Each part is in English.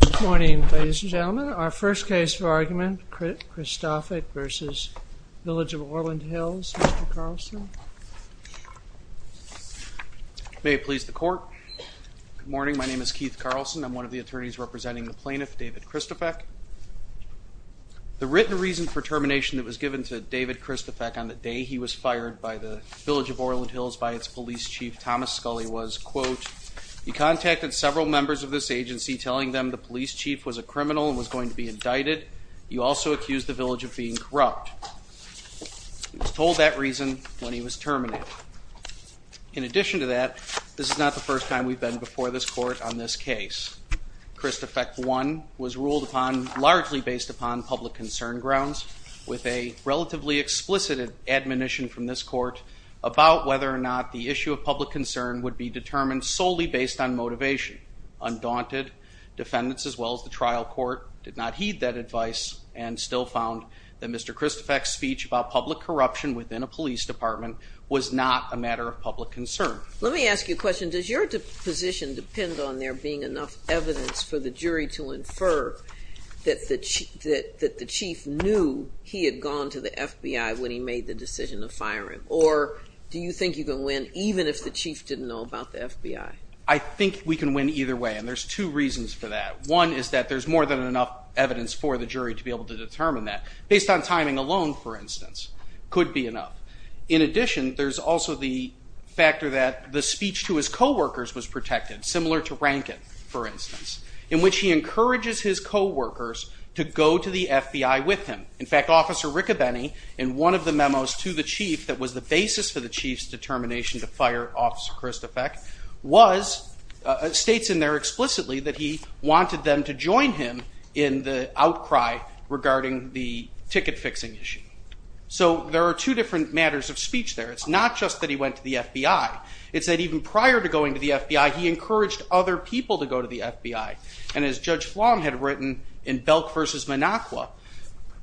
Good morning, ladies and gentlemen. Our first case for argument, Kristofek v. Village of Orland Hills, Mr. Carlson. May it please the court. Good morning, my name is Keith Carlson. I'm one of the attorneys representing the plaintiff, David Kristofek. The written reason for termination that was given to David Kristofek on the day he was fired by the Village of Orland Hills by its police chief, Thomas Scully, was, quote, you contacted several members of this agency telling them the police chief was a criminal and was going to be indicted. You also accused the Village of being corrupt. He was told that reason when he was terminated. In addition to that, this is not the first time we've been before this court on this case. Kristofek, one, was ruled upon largely based upon public concern grounds with a relatively explicit admonition from this court about whether or not the issue of public concern would be determined solely based on motivation. Undaunted, defendants as well as the trial court did not heed that advice and still found that Mr. Kristofek's speech about public corruption within a police department was not a matter of public concern. Let me ask you a question. Does your position depend on there being enough evidence for the jury to infer that the chief knew he had gone to the FBI when he made the decision to fire him? Or do you think you can win even if the chief didn't know about the FBI? I think we can win either way and there's two reasons for that. One is that there's more than enough evidence for the jury to be able to determine that. Based on timing alone, for instance, could be enough. In addition, there's also the factor that the speech to his coworkers was protected, similar to Rankin, for instance, in which he encourages his coworkers to go to the FBI with him. In fact, Officer Riccobeni, in one of the memos to the chief that was the basis for the chief's determination to fire Officer Kristofek, states in there explicitly that he wanted them to join him in the outcry regarding the ticket fixing issue. So there are two different matters of speech there. It's not just that he went to the FBI. It's that even prior to going to the FBI, he encouraged other people to go to the FBI. And as Judge Flom had written in Belk v. Minocqua,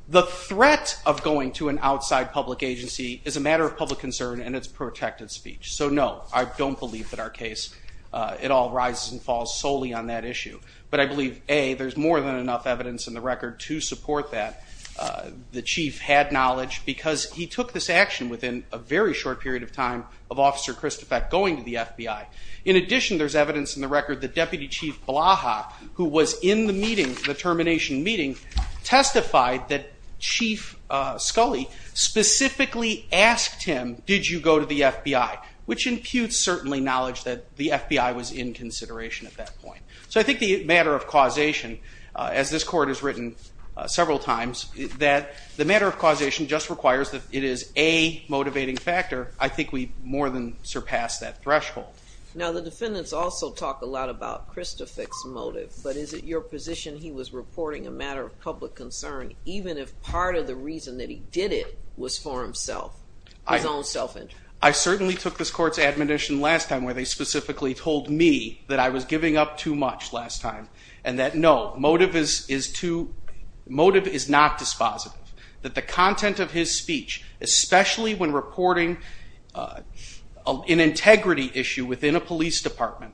the threat of going to an outside public agency is a matter of public concern and it's protected speech. So no, I don't believe that our case at all rises and falls solely on that issue. But I believe, A, there's more than enough evidence in the record to support that. The chief had knowledge because he took this action within a very short period of time of Officer Kristofek going to the FBI. In addition, there's evidence in the record that Deputy Chief Blaha, who was in the meeting, the termination meeting, testified that Chief Scully specifically asked him, did you go to the FBI, which imputes certainly knowledge that the FBI was in consideration at that point. So I think the matter of causation, as this court has written several times, that the matter of causation just requires that it is a motivating factor. I think we've more than surpassed that threshold. Now the defendants also talk a lot about Kristofek's motive, but is it your position he was reporting a matter of public concern, even if part of the reason that he did it was for himself, his own self-interest? I certainly took this court's admonition last time where they specifically told me that I was giving up too much last time, and that no, motive is not dispositive. That the content of his speech, especially when reporting an integrity issue within a police department,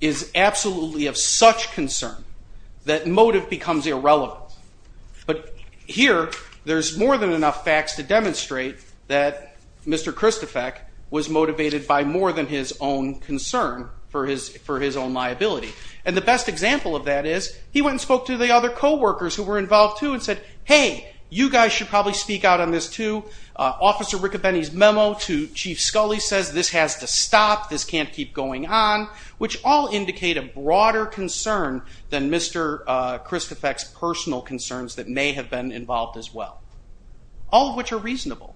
is absolutely of such concern that motive becomes irrelevant. But here, there's more than enough facts to demonstrate that Mr. Kristofek was motivated by more than his own concern for his own liability. And the best example of that is, he went and spoke to the other co-workers who were involved too and said, hey, you guys should probably speak out on this too. Officer Riccobeni's memo to Chief Scully says this has to stop, this can't keep going on, which all indicate a broader concern than Mr. Kristofek's personal concerns that may have been involved as well. All of which are reasonable.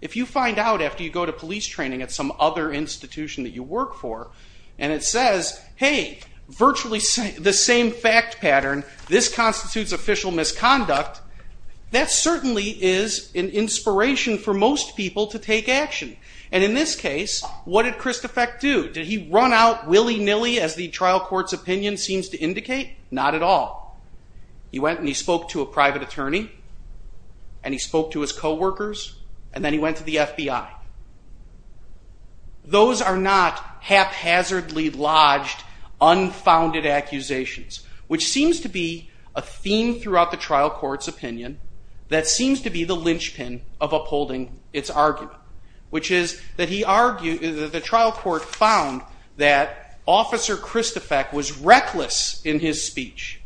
If you find out after you go to police training at some other institution that you work for, and it says, hey, virtually the same fact pattern, this constitutes official misconduct, that certainly is an inspiration for most people to take action. And in this case, what did Kristofek do? Nilly nilly as the trial court's opinion seems to indicate, not at all. He went and he spoke to a private attorney, and he spoke to his co-workers, and then he went to the FBI. Those are not haphazardly lodged, unfounded accusations. Which seems to be a theme throughout the trial court's opinion, that seems to be the linchpin of upholding its argument. Which is that the trial court found that Officer Kristofek was reckless in his speech.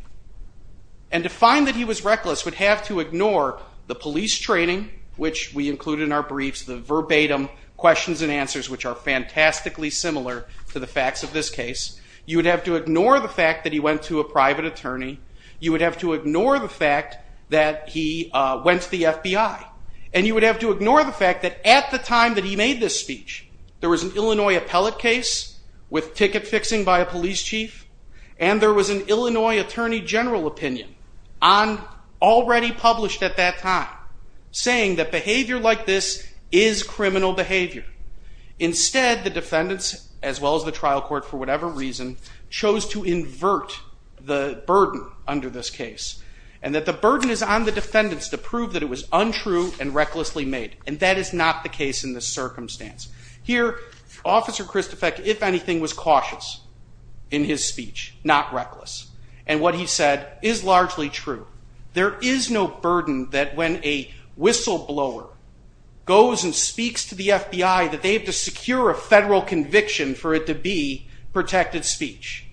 And to find that he was reckless would have to ignore the police training, which we include in our briefs, the verbatim questions and answers, which are fantastically similar to the facts of this case. You would have to ignore the fact that he went to a private attorney. You would have to ignore the fact that he went to the FBI. And you would have to ignore the fact that at the time that he made this speech, there was an Illinois appellate case with ticket fixing by a police chief, and there was an Illinois Attorney General opinion, already published at that time, saying that behavior like this is criminal behavior. Instead, the defendants, as well as the trial court for whatever reason, chose to invert the burden under this case. And that the burden is on the defendants to prove that it was untrue and recklessly made. And that is not the case in this circumstance. Here, Officer Kristofek, if anything, was cautious in his speech, not reckless. And what he said is largely true. There is no burden that when a whistleblower goes and speaks to the FBI, that they have to secure a federal conviction for it to be protected speech.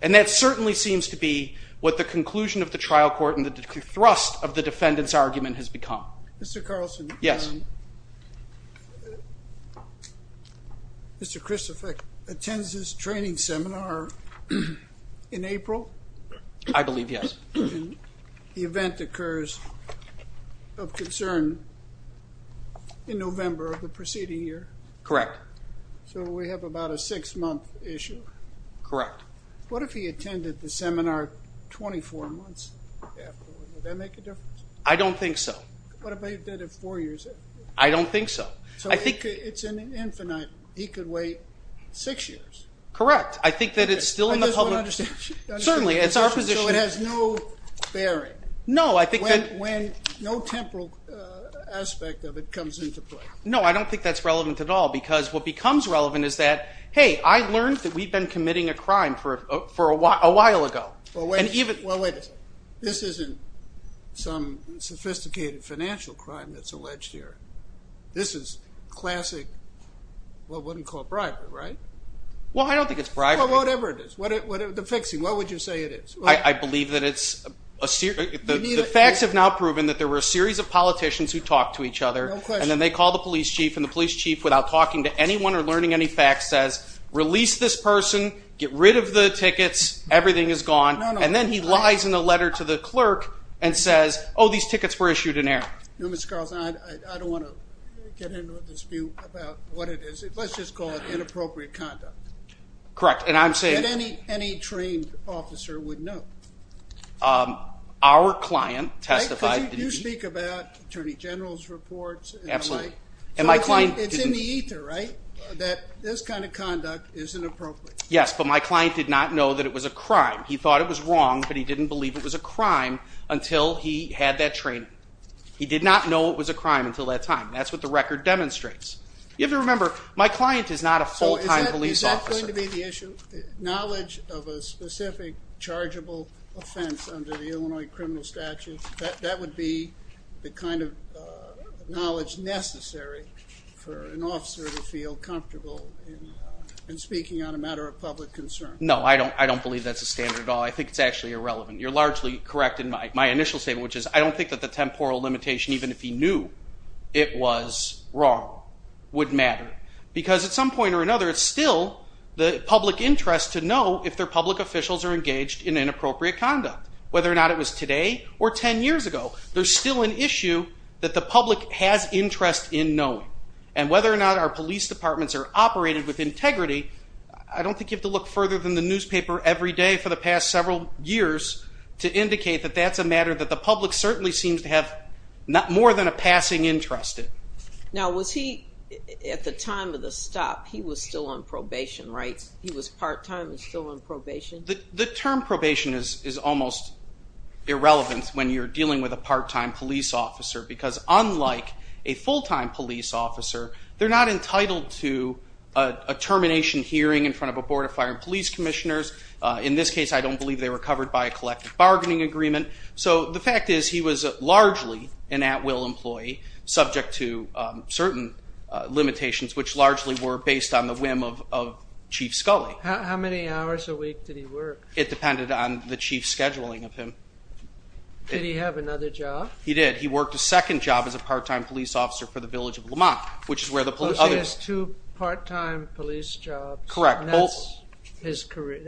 And that certainly seems to be what the conclusion of the trial court and the thrust of the defendant's argument has become. Mr. Carlson. Yes. Mr. Kristofek attends his training seminar in April. I believe, yes. The event occurs of concern in November of the preceding year. Correct. So we have about a six-month issue. Correct. What if he attended the seminar 24 months after? Would that make a difference? I don't think so. What if he did it four years after? I don't think so. So it's infinite. He could wait six years. Correct. I think that it's still in the public... I just want to understand. Certainly, it's our position... So it has no bearing. No, I think that... When no temporal aspect of it comes into play. What becomes relevant is that, hey, I learned that we've been committing a crime for a while ago. Well, wait a second. This isn't some sophisticated financial crime that's alleged here. This is classic, what one would call bribery, right? Well, I don't think it's bribery. Well, whatever it is. The fixing. What would you say it is? I believe that it's... The facts have now proven that there were a series of politicians who talked to each other. No question. And then they call the police chief and the police chief, without talking to anyone or learning any facts, says, release this person. Get rid of the tickets. Everything is gone. And then he lies in a letter to the clerk and says, oh, these tickets were issued in error. No, Mr. Carlson, I don't want to get into a dispute about what it is. Let's just call it inappropriate conduct. Correct. And I'm saying... That any trained officer would know. Our client testified... We speak about Attorney General's reports and the like. Absolutely. And my client... It's in the ether, right, that this kind of conduct is inappropriate. Yes, but my client did not know that it was a crime. He thought it was wrong, but he didn't believe it was a crime until he had that training. He did not know it was a crime until that time. That's what the record demonstrates. You have to remember, my client is not a full-time police officer. So is that going to be the issue? Knowledge of a specific chargeable offense under the Illinois criminal statute, that would be the kind of knowledge necessary for an officer to feel comfortable in speaking on a matter of public concern. No, I don't believe that's a standard at all. I think it's actually irrelevant. You're largely correct in my initial statement, which is I don't think that the temporal limitation, even if he knew it was wrong, would matter. Because at some point or another, it's still the public interest to know if their public officials are engaged in inappropriate conduct, whether or not it was today or ten years ago. There's still an issue that the public has interest in knowing. And whether or not our police departments are operated with integrity, I don't think you have to look further than the newspaper every day for the past several years to indicate that that's a matter that the public certainly seems to have more than a passing interest in. Now, was he, at the time of the stop, he was still on probation, right? He was part-time and still on probation? The term probation is almost irrelevant when you're dealing with a part-time police officer. Because unlike a full-time police officer, they're not entitled to a termination hearing in front of a board of fire and police commissioners. In this case, I don't believe they were covered by a collective bargaining agreement. So the fact is he was largely an at-will employee, subject to certain limitations, which largely were based on the whim of Chief Scully. How many hours a week did he work? It depended on the chief's scheduling of him. Did he have another job? He did. He worked a second job as a part-time police officer for the village of Lamont, which is where the police... So he has two part-time police jobs. Correct. And that's his career.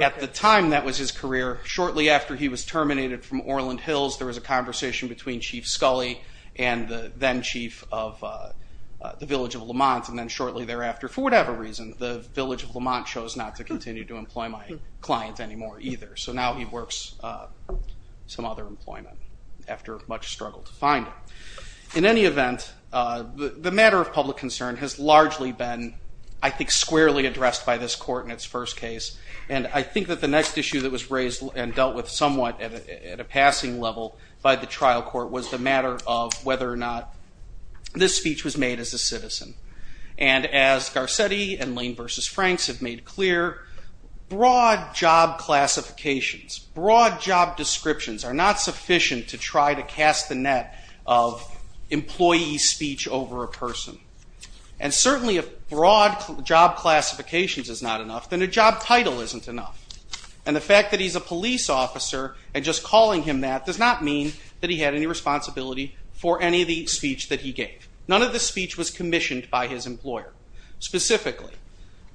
At the time, that was his career. Shortly after he was terminated from Orland Hills, there was a conversation between Chief Scully and the then-chief of the village of Lamont. And then shortly thereafter, for whatever reason, the village of Lamont chose not to continue to employ my client anymore either. So now he works some other employment after much struggle to find him. In any event, the matter of public concern has largely been, I think, squarely addressed by this court in its first case. And I think that the next issue that was raised and dealt with somewhat at a passing level by the trial court was the matter of whether or not this speech was made as a citizen. And as Garcetti and Lane v. Franks have made clear, broad job classifications, broad job descriptions are not sufficient to try to cast the net of employee speech over a person. And certainly if broad job classifications is not enough, then a job title isn't enough. And the fact that he's a police officer and just calling him that does not mean that he had any responsibility for any of the speech that he gave. None of the speech was commissioned by his employer. Specifically,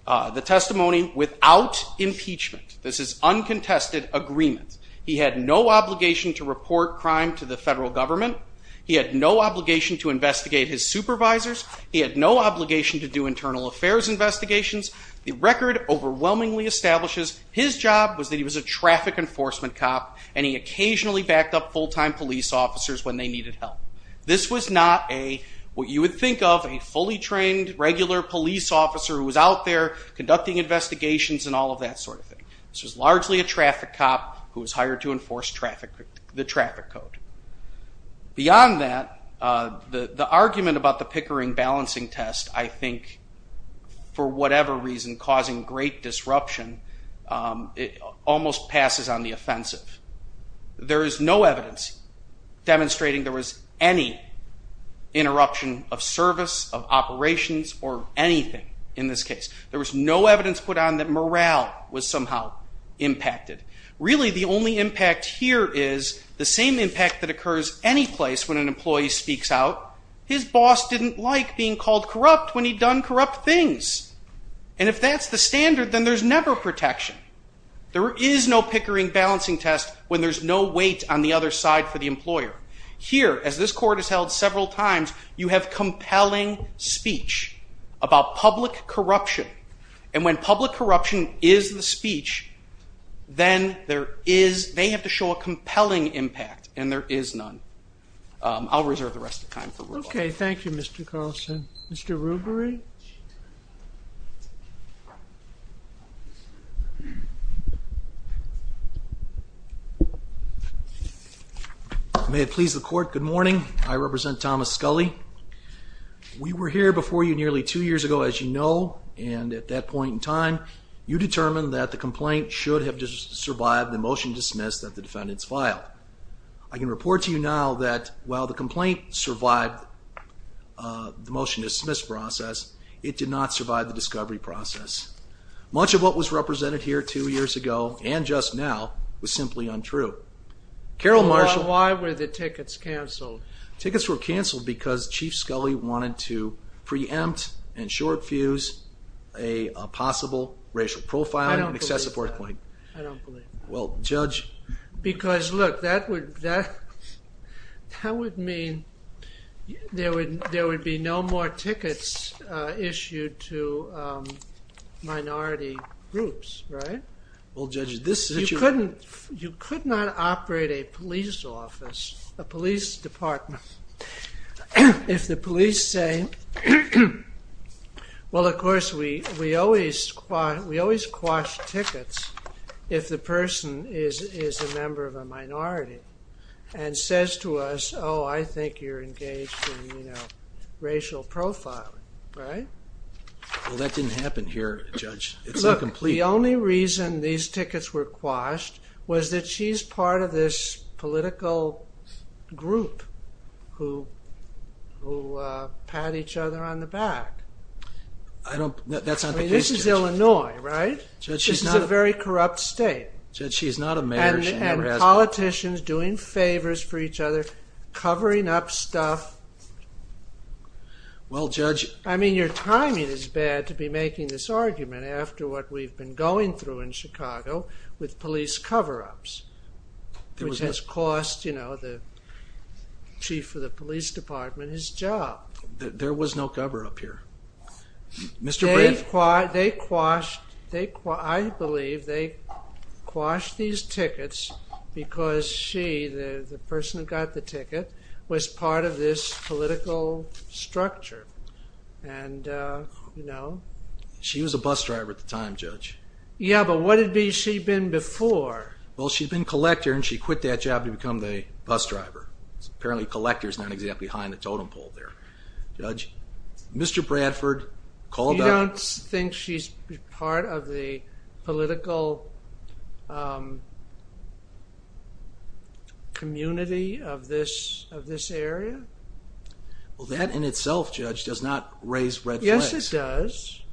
the testimony without impeachment. This is uncontested agreement. He had no obligation to report crime to the federal government. He had no obligation to investigate his supervisors. He had no obligation to do internal affairs investigations. The record overwhelmingly establishes his job was that he was a traffic enforcement cop and he occasionally backed up full-time police officers when they needed help. This was not a, what you would think of, a trained, regular police officer who was out there conducting investigations and all of that sort of thing. This was largely a traffic cop who was hired to enforce the traffic code. Beyond that, the argument about the Pickering balancing test, I think, for whatever reason, causing great disruption, it almost passes on the offensive. There is no evidence demonstrating there was any interruption of service, of operations, or anything in this case. There was no evidence put on that morale was somehow impacted. Really, the only impact here is the same impact that occurs any place when an employee speaks out. His boss didn't like being called corrupt when he'd done corrupt things. And if that's the standard, then there's never protection. There is no Pickering balancing test when there's no weight on the other side for the employer. Here, as this court has held several times, you have compelling speech about public corruption. And when public corruption is the speech, then there is, they have to show a compelling impact, and there is none. I'll reserve the rest of the time. Okay, thank you, Mr. Carlson. Mr. Rubery? May it please the court, good morning. I represent Thomas Scully. We were here before you nearly two years ago, as you know, and at that point in time, you determined that the complaint should have survived the motion to dismiss that the defendants filed. I can report to you now that while the complaint survived the motion to dismiss process, it did not survive the discovery process. Much of what was represented here two years ago, and just now, was simply untrue. Carol Marshall? Why were the tickets canceled? Tickets were canceled because Chief Scully wanted to preempt and short fuse a possible racial profiling and excessive worth claim. I don't believe that. Well, Judge? Because, look, that would mean there would be no more tickets issued to minority groups, right? Well, Judge, this situation... You could not operate a police office, a police department, if the police say, well, of course, we always quash tickets if the person is a member of a minority and says to us, oh, I think you're engaged in racial profiling, right? Well, that didn't happen here, Judge. It's incomplete. Look, the only reason these tickets were quashed was that she's part of this political group who pat each other on the back. That's not the case, Judge. This is Illinois, right? This is a very corrupt state. Judge, she's not a mayor. And politicians doing favors for each other, covering up stuff. Well, Judge... I mean, your timing is bad to be making this argument after what we've been going through in Chicago with police cover-ups, which has cost, you know, the chief of the police department his job. There was no cover-up here. Mr. Brant... They quashed... I believe they quashed these tickets because she, the person who got the ticket, was part of this political structure. And, you know... She was a bus driver at the time, Judge. Yeah, but what had she been before? Well, she'd been collector, and she quit that job to become the bus driver. Apparently, collector's not exactly behind the totem pole there, Judge. Mr. Bradford called out... You don't think she's part of the political... community of this area? Well, that in itself, Judge, does not raise red flags. Yes, it does.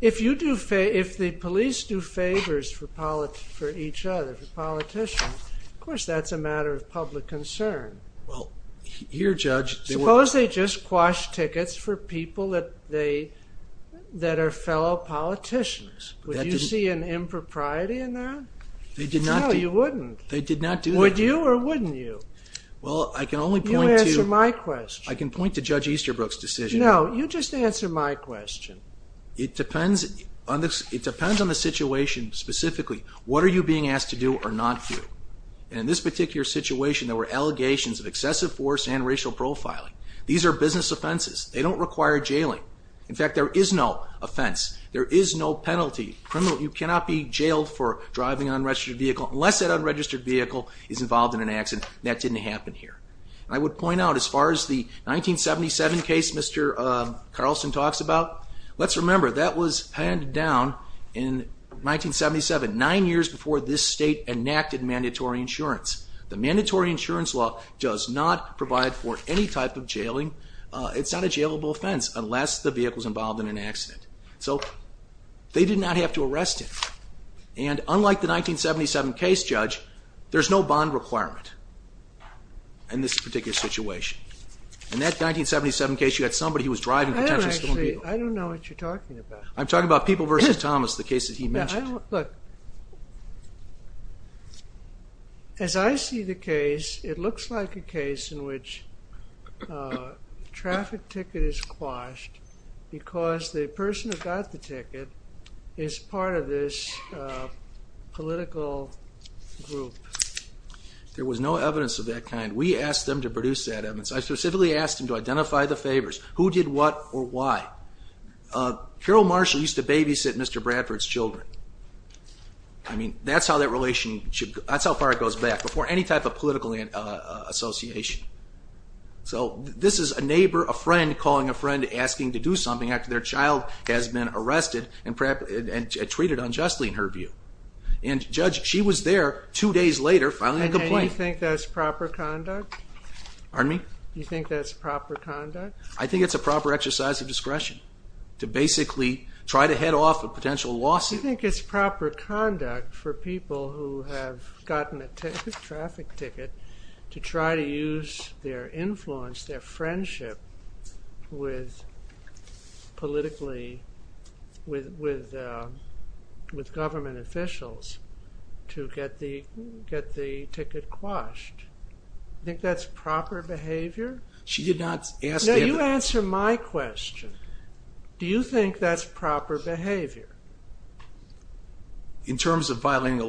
The police do favors for each other, for politicians. Of course, that's a matter of public concern. Well, here, Judge... Suppose they just quashed tickets for people that are fellow politicians. Would you see an impropriety in that? No, you wouldn't. Would you or wouldn't you? Well, I can only point to... You answer my question. I can point to Judge Easterbrook's decision. No, you just answer my question. It depends on the situation specifically. What are you being asked to do or not do? In this particular situation, there were allegations of excessive force and racial profiling. These are business offenses. They don't require jailing. In fact, there is no offense. There is no penalty. You cannot be jailed for driving an unregistered vehicle unless that unregistered vehicle is involved in an accident. That didn't happen here. I would point out, as far as the 1977 case Mr. Carlson talks about, in 1977, nine years before this state enacted mandatory insurance, the mandatory insurance law does not provide for any type of jailing. It's not a jailable offense unless the vehicle is involved in an accident. So they did not have to arrest him. And unlike the 1977 case, Judge, there's no bond requirement in this particular situation. In that 1977 case, you had somebody who was driving a potential stolen vehicle. I don't know what you're talking about. This is the case that he mentioned. Look. As I see the case, it looks like a case in which a traffic ticket is quashed because the person who got the ticket is part of this political group. There was no evidence of that kind. We asked them to produce that evidence. I specifically asked them to identify the favors. Who did what or why? Carol Marshall used to babysit Mr. Bradford's children. I mean, that's how that relationship, that's how far it goes back before any type of political association. So this is a neighbor, a friend, calling a friend asking to do something after their child has been arrested and treated unjustly in her view. And Judge, she was there two days later filing a complaint. And do you think that's proper conduct? Pardon me? Do you think that's proper conduct? I think it's a proper exercise of discretion to file a potential lawsuit. Do you think it's proper conduct for people who have gotten a traffic ticket to try to use their influence, their friendship with politically, with government officials to get the ticket quashed? Do you think that's proper behavior? She did not ask... No, you answer my question. Do you think that's proper behavior? In terms of violating...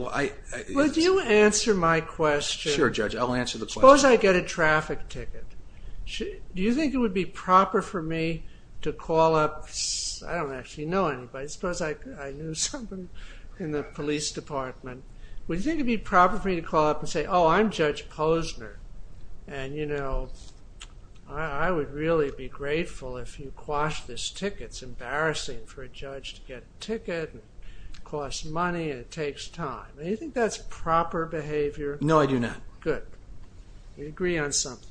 Would you answer my question? Sure, Judge, I'll answer the question. Suppose I get a traffic ticket. Do you think it would be proper for me to call up... I don't actually know anybody. Suppose I knew someone in the police department. Would you think it would be proper for me to call up and say, oh, I'm Judge Posner, and, you know, I would really be grateful if you quashed this ticket. It's embarrassing for a judge to get a ticket. It costs money, and it takes time. Do you think that's proper behavior? No, I do not. Good. You agree on something.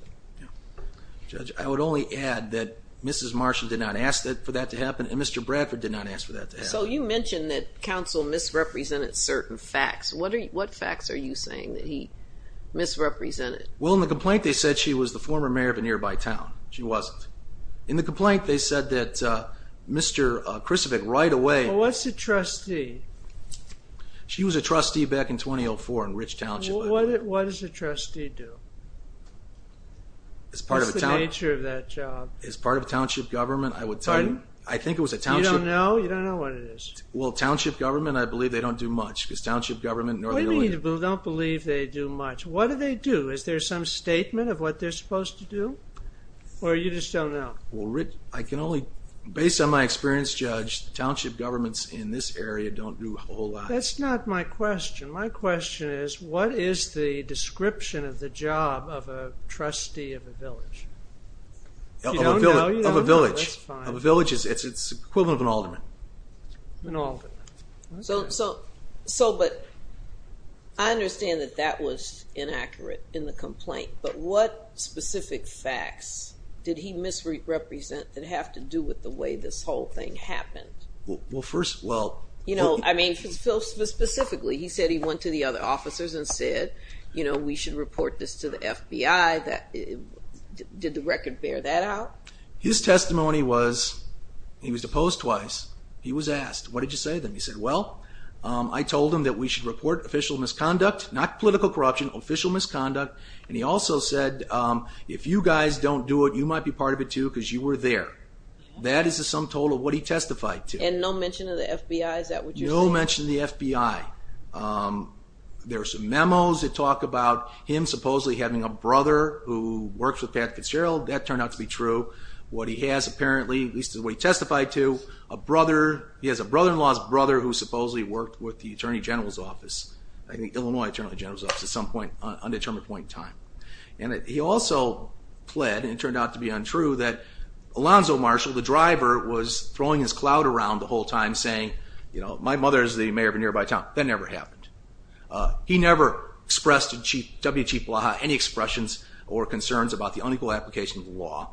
Judge, I would only add that Mrs. Marshall did not ask for that to happen, and Mr. Bradford did not ask for that to happen. So you mentioned that counsel misrepresented certain facts. Well, in the complaint, they said she was the former mayor of a nearby town. She wasn't. In the complaint, they said that Mr. Krusevic right away... Well, what's a trustee? She was a trustee back in 2004 in Rich Township. What does a trustee do? What's the nature of that job? As part of a township government, I would tell you... Pardon? I think it was a township... Do you have some statement of what they're supposed to do, or you just don't know? Based on my experience, Judge, township governments in this area don't do a whole lot. That's not my question. My question is, what is the description of the job of a trustee of a village? If you don't know, you don't know. Of a village. It's the equivalent of an alderman. An alderman. I understand that that was Mr. Krusevic's complaint, but what specific facts did he misrepresent that have to do with the way this whole thing happened? Well, first... Specifically, he said he went to the other officers and said, we should report this to the FBI. Did the record bear that out? His testimony was, he was opposed twice. He was asked, what did you say to him? He said, well, I told him and he also said, if you guys don't do it, you might be part of it too because you were there. That is the sum total of what he testified to. And no mention of the FBI, is that what you're saying? No mention of the FBI. There are some memos that talk about him supposedly having a brother who works with Pat Fitzgerald. That turned out to be true. What he has apparently, and he also pled, and it turned out to be untrue, that Alonzo Marshall, the driver was throwing his clout around the whole time saying, my mother is the mayor of a nearby town. That never happened. He never expressed to W. Chief Blaha any expressions or concerns about the unequal application of the law.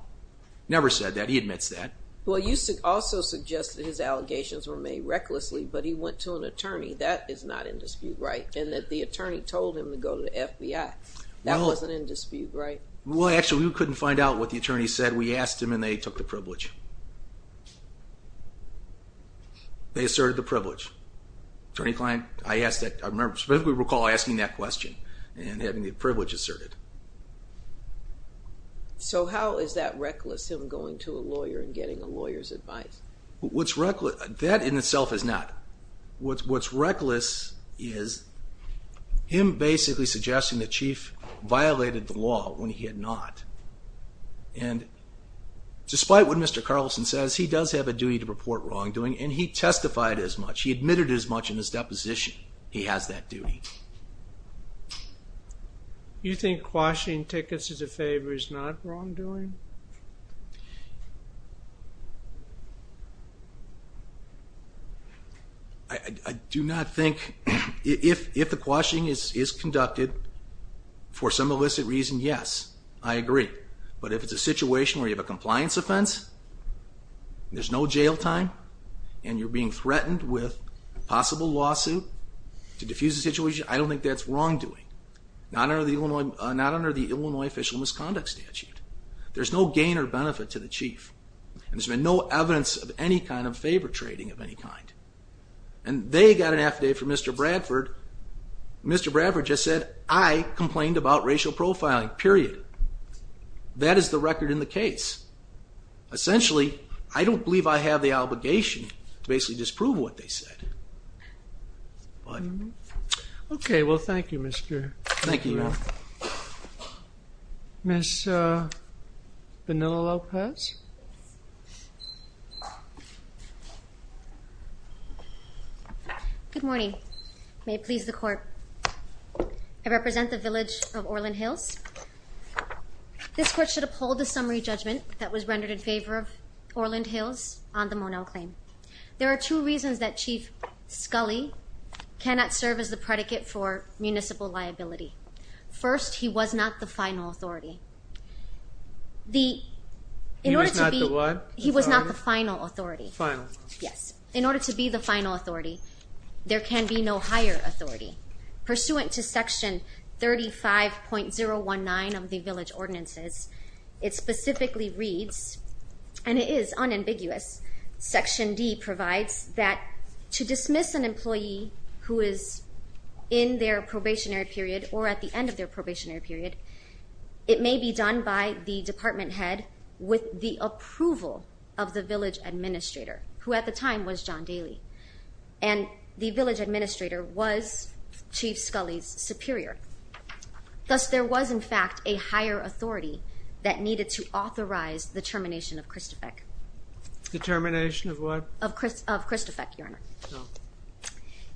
Never said that, he admits that. Well, you also suggested his allegations were made at a dispute, right? Well, actually we couldn't find out what the attorney said. We asked him and they took the privilege. They asserted the privilege. Attorney Klein, I asked that, I specifically recall asking that question and having the privilege asserted. So how is that reckless, him going to a lawyer and getting a lawyer's advice? What's reckless, that in itself is not. What's reckless is him basically suggesting that Chief violated the law when he had not. And despite what Mr. Carlson says, he does have a duty to report wrongdoing and he testified as much. He admitted as much in his deposition he has that duty. You think quashing tickets as a favor is not wrongdoing? I do not think, if the quashing is conducted for some illicit reason, yes, I agree. But if it's a situation where you have a compliance offense, there's no jail time and you're being threatened with possible lawsuit to defuse the situation, I don't think that's wrongdoing. Not under the Illinois Official Misconduct Statute. There's no gain or benefit to the Chief. And there's been no evidence of any kind of favor trading of any kind. And they got an affidavit from Mr. Bradford. Mr. Bradford just said, I complained about racial profiling, period. That is the record in the case. Essentially, I don't believe I have the obligation to basically disprove what they said. Okay, well thank you, Mr. McGrath. Thank you, Your Honor. Ms. Vanila Lopez? Good morning. May it please the court. I represent the village of Orland Hills. This court should uphold a summary judgment that was rendered in favor of Orland Hills on the Monell claim. There are two reasons that Chief Scully cannot serve as the predicate for municipal liability. First, he was not the final authority. He was not the what? He was not the final authority. Final. Yes. In order to be the final authority, there can be no higher authority. Pursuant to section 35.019 of the village ordinances, it specifically reads, and it is unambiguous, section D provides that to dismiss an employee who is in their probationary period or at the end of their probationary period, it may be done by the department head with the approval of the village administrator, who at the time was John Daly. And the village administrator was Chief Scully's superior. Thus, there was in fact a higher authority that needed to authorize the termination of Christofek. The termination of what? Of Christofek, Your Honor. Oh.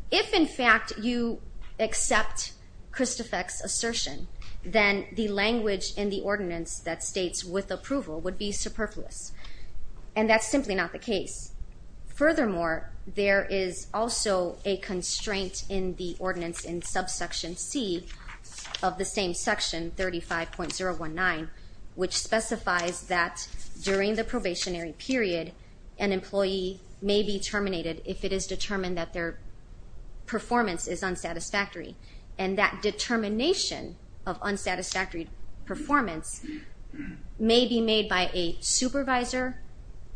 If in fact, you accept Christofek's assertion, then the language in the ordinance that states with approval would be superfluous. And that's simply not the case. Furthermore, there is also a constraint in the ordinance in subsection C of the same section, 35.019, which specifies that during the probationary period, an employee may be terminated if it is determined that their performance is unsatisfactory. And that determination of unsatisfactory performance may be made by a supervisor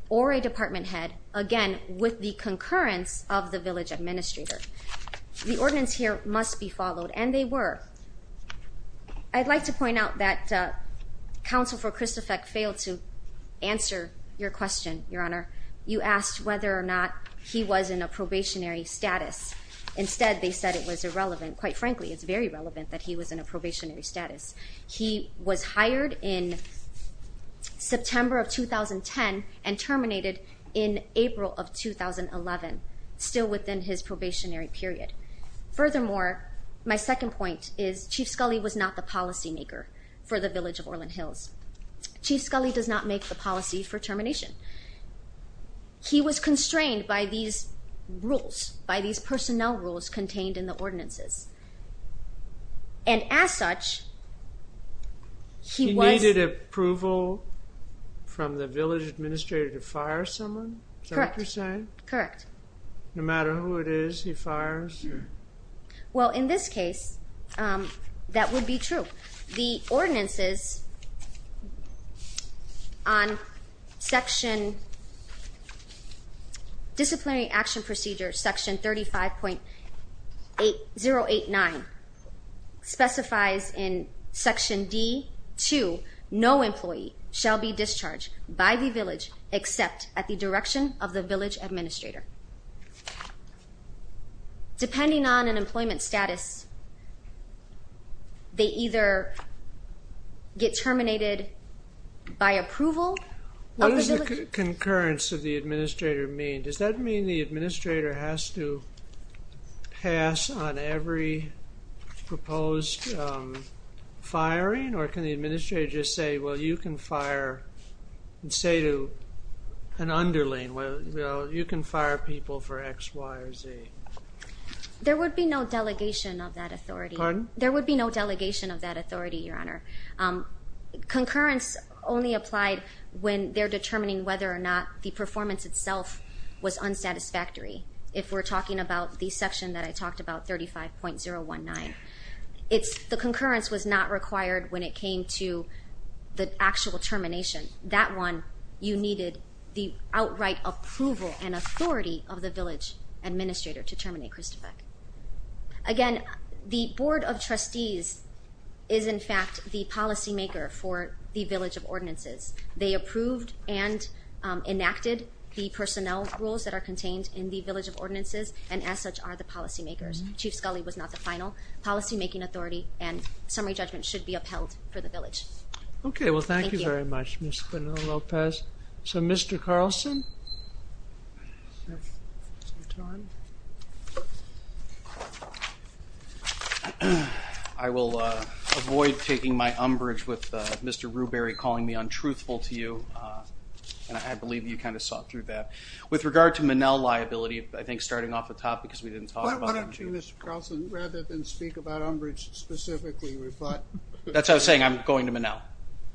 or a department head, again, with the concurrence of the village administrator. The ordinance here must be followed, and they were. I'd like to point out that Counsel for Christofek failed to answer your question, Your Honor. You asked whether or not he was in a probationary status. Instead, they said it was irrelevant. Quite frankly, it's very relevant that he was in a probationary status. He was hired in September of 2010 and terminated in April of 2011, still within his probationary period. Furthermore, my second point is Chief Scully was not the policymaker for the village of Orland Hills. Chief Scully does not make the policy for termination. He was constrained by these rules, by these personnel rules contained in the ordinances. And as such, he was... He needed approval from the village administrator to fire someone? Correct. Is that what you're saying? Correct. No matter who it is he fires? Well, in this case, that would be true. The ordinances on Section Disciplinary Action Procedure Section 35.089 specifies in Section D.2 no employee shall be discharged by the village except at the direction of the village administrator. Depending on an employment status, they either get terminated by approval of the village... What does the concurrence of the administrator mean? Does that mean the administrator has to pass on every proposed firing? Or can the administrator just say, well, you can fire and say to an underling, well, you can fire people for X, Y, or Z? There would be no delegation of that authority. Pardon? There would be no delegation of that authority, Your Honor. Concurrence only applied when they're determining whether or not the performance itself was unsatisfactory. If we're talking about the section that I talked about, 35.019, the concurrence was not required when it came to the actual termination that one, you needed the outright approval and authority of the village administrator to terminate Christofek. Again, the Board of Trustees is in fact the policymaker for the village of ordinances. They approved and enacted the personnel rules that are contained in the village of ordinances and as such are the policymakers. Chief Scully was not the final policymaking authority and summary judgment should be upheld for the village. Okay. Well, thank you very much, Ms. Quinell-Lopez. So, Mr. Carlson, I will avoid taking my umbrage with Mr. Rewberry calling me untruthful to you and I believe you kind of saw through that. With regard to Manel liability, I think starting off the top because we didn't talk about it. Why don't you, Mr. Carlson, rather than speak about umbrage specifically, That's what I was saying. I'm going to Manel.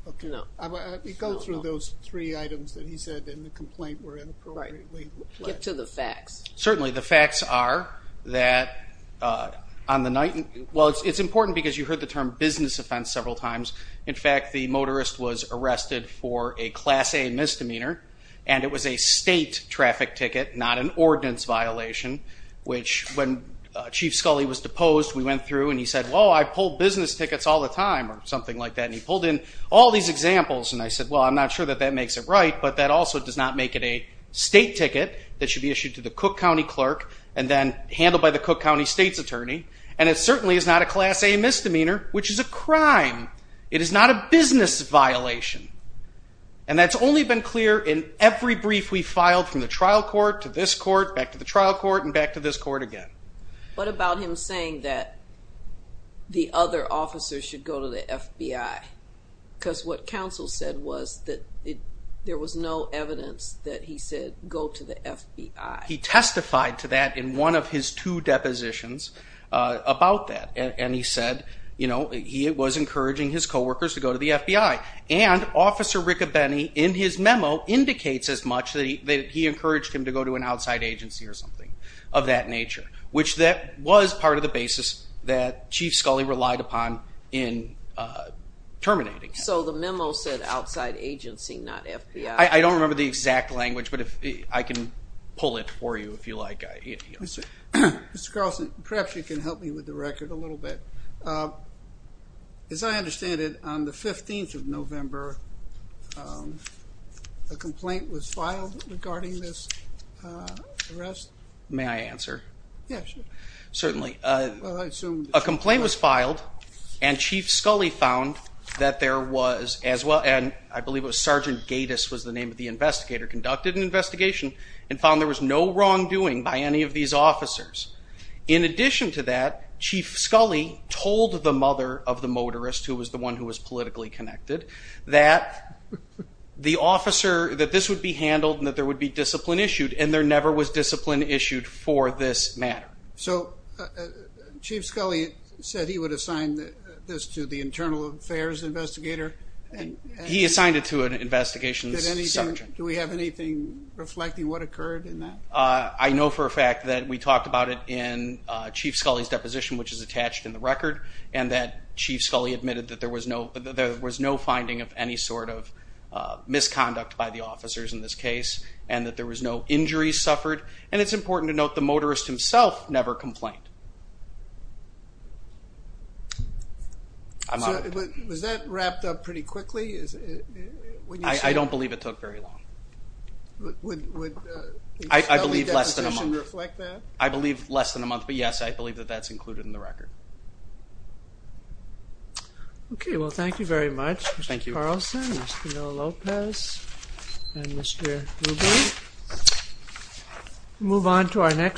Okay. Go through those three items that he said in the complaint were inappropriately placed. Get to the facts. Certainly. The facts are that on the night well, it's important because you heard the term business offense several times. In fact, the motorist was arrested for a class A misdemeanor and it was a state traffic ticket not an ordinance violation which when Chief Scully was deposed we went through and he said, well, I pull business tickets all the time or something like that and he pulled in all these examples and I said, well, I'm not sure that that makes it right but that also does not make it a state ticket that should be issued to the Cook County clerk and then handled by the Cook County state's attorney and it certainly is not a class A misdemeanor which is a crime. It is not a business violation and that's only been clear in every brief we filed from the trial court to this court back to the trial court and back to this court again. What about him saying that the other officers should go to the FBI because what counsel said was that there was no evidence that he said He testified to that in one of his two depositions about that and he said, you know, he was encouraging his co-workers to go to the FBI and Officer Riccobeni in his memo indicates as much that he encouraged him to go to an outside agency or something of that nature which that was part of the basis that Chief Scully relied upon in terminating. So the memo said outside agency not FBI. I don't remember the exact language but I can pull it for you if you like. Mr. Carlson, perhaps you can help me with the record a little bit. As I understand it, on the 15th of November a complaint was filed regarding this arrest? May I answer? Yes. Certainly. Well, I assume a complaint was filed and Chief Scully found that there was as well, and I believe it was Sergeant Gatiss was the name of the investigator, conducted an investigation and found there was no wrongdoing by any of these officers. In addition to that, Chief Scully told the mother of the motorist, who was the one who was politically connected, that the officer, that this would be handled and that there would be discipline issued and there never was discipline issued for this matter. So, Chief Scully said he would assign this to the internal affairs investigator? He assigned it to an investigation sergeant. Do we have anything reflecting what occurred in that? I know for a fact that we talked about it in Chief Scully's deposition, which is attached in the record, and that Chief Scully admitted that there was no finding of any sort of misconduct by the officers in this case and that there was no injuries suffered and it's important to note the motorist himself never complained. Was that wrapped up pretty quickly? I don't believe it took very long. Would Chief Scully's deposition reflect that? I believe less than a month, but yes, I believe that that's included in the record. Okay, well, thank you very much, Mr. Carlson, Mr. Lopez, and Mr. Ruby. We'll move on to our next...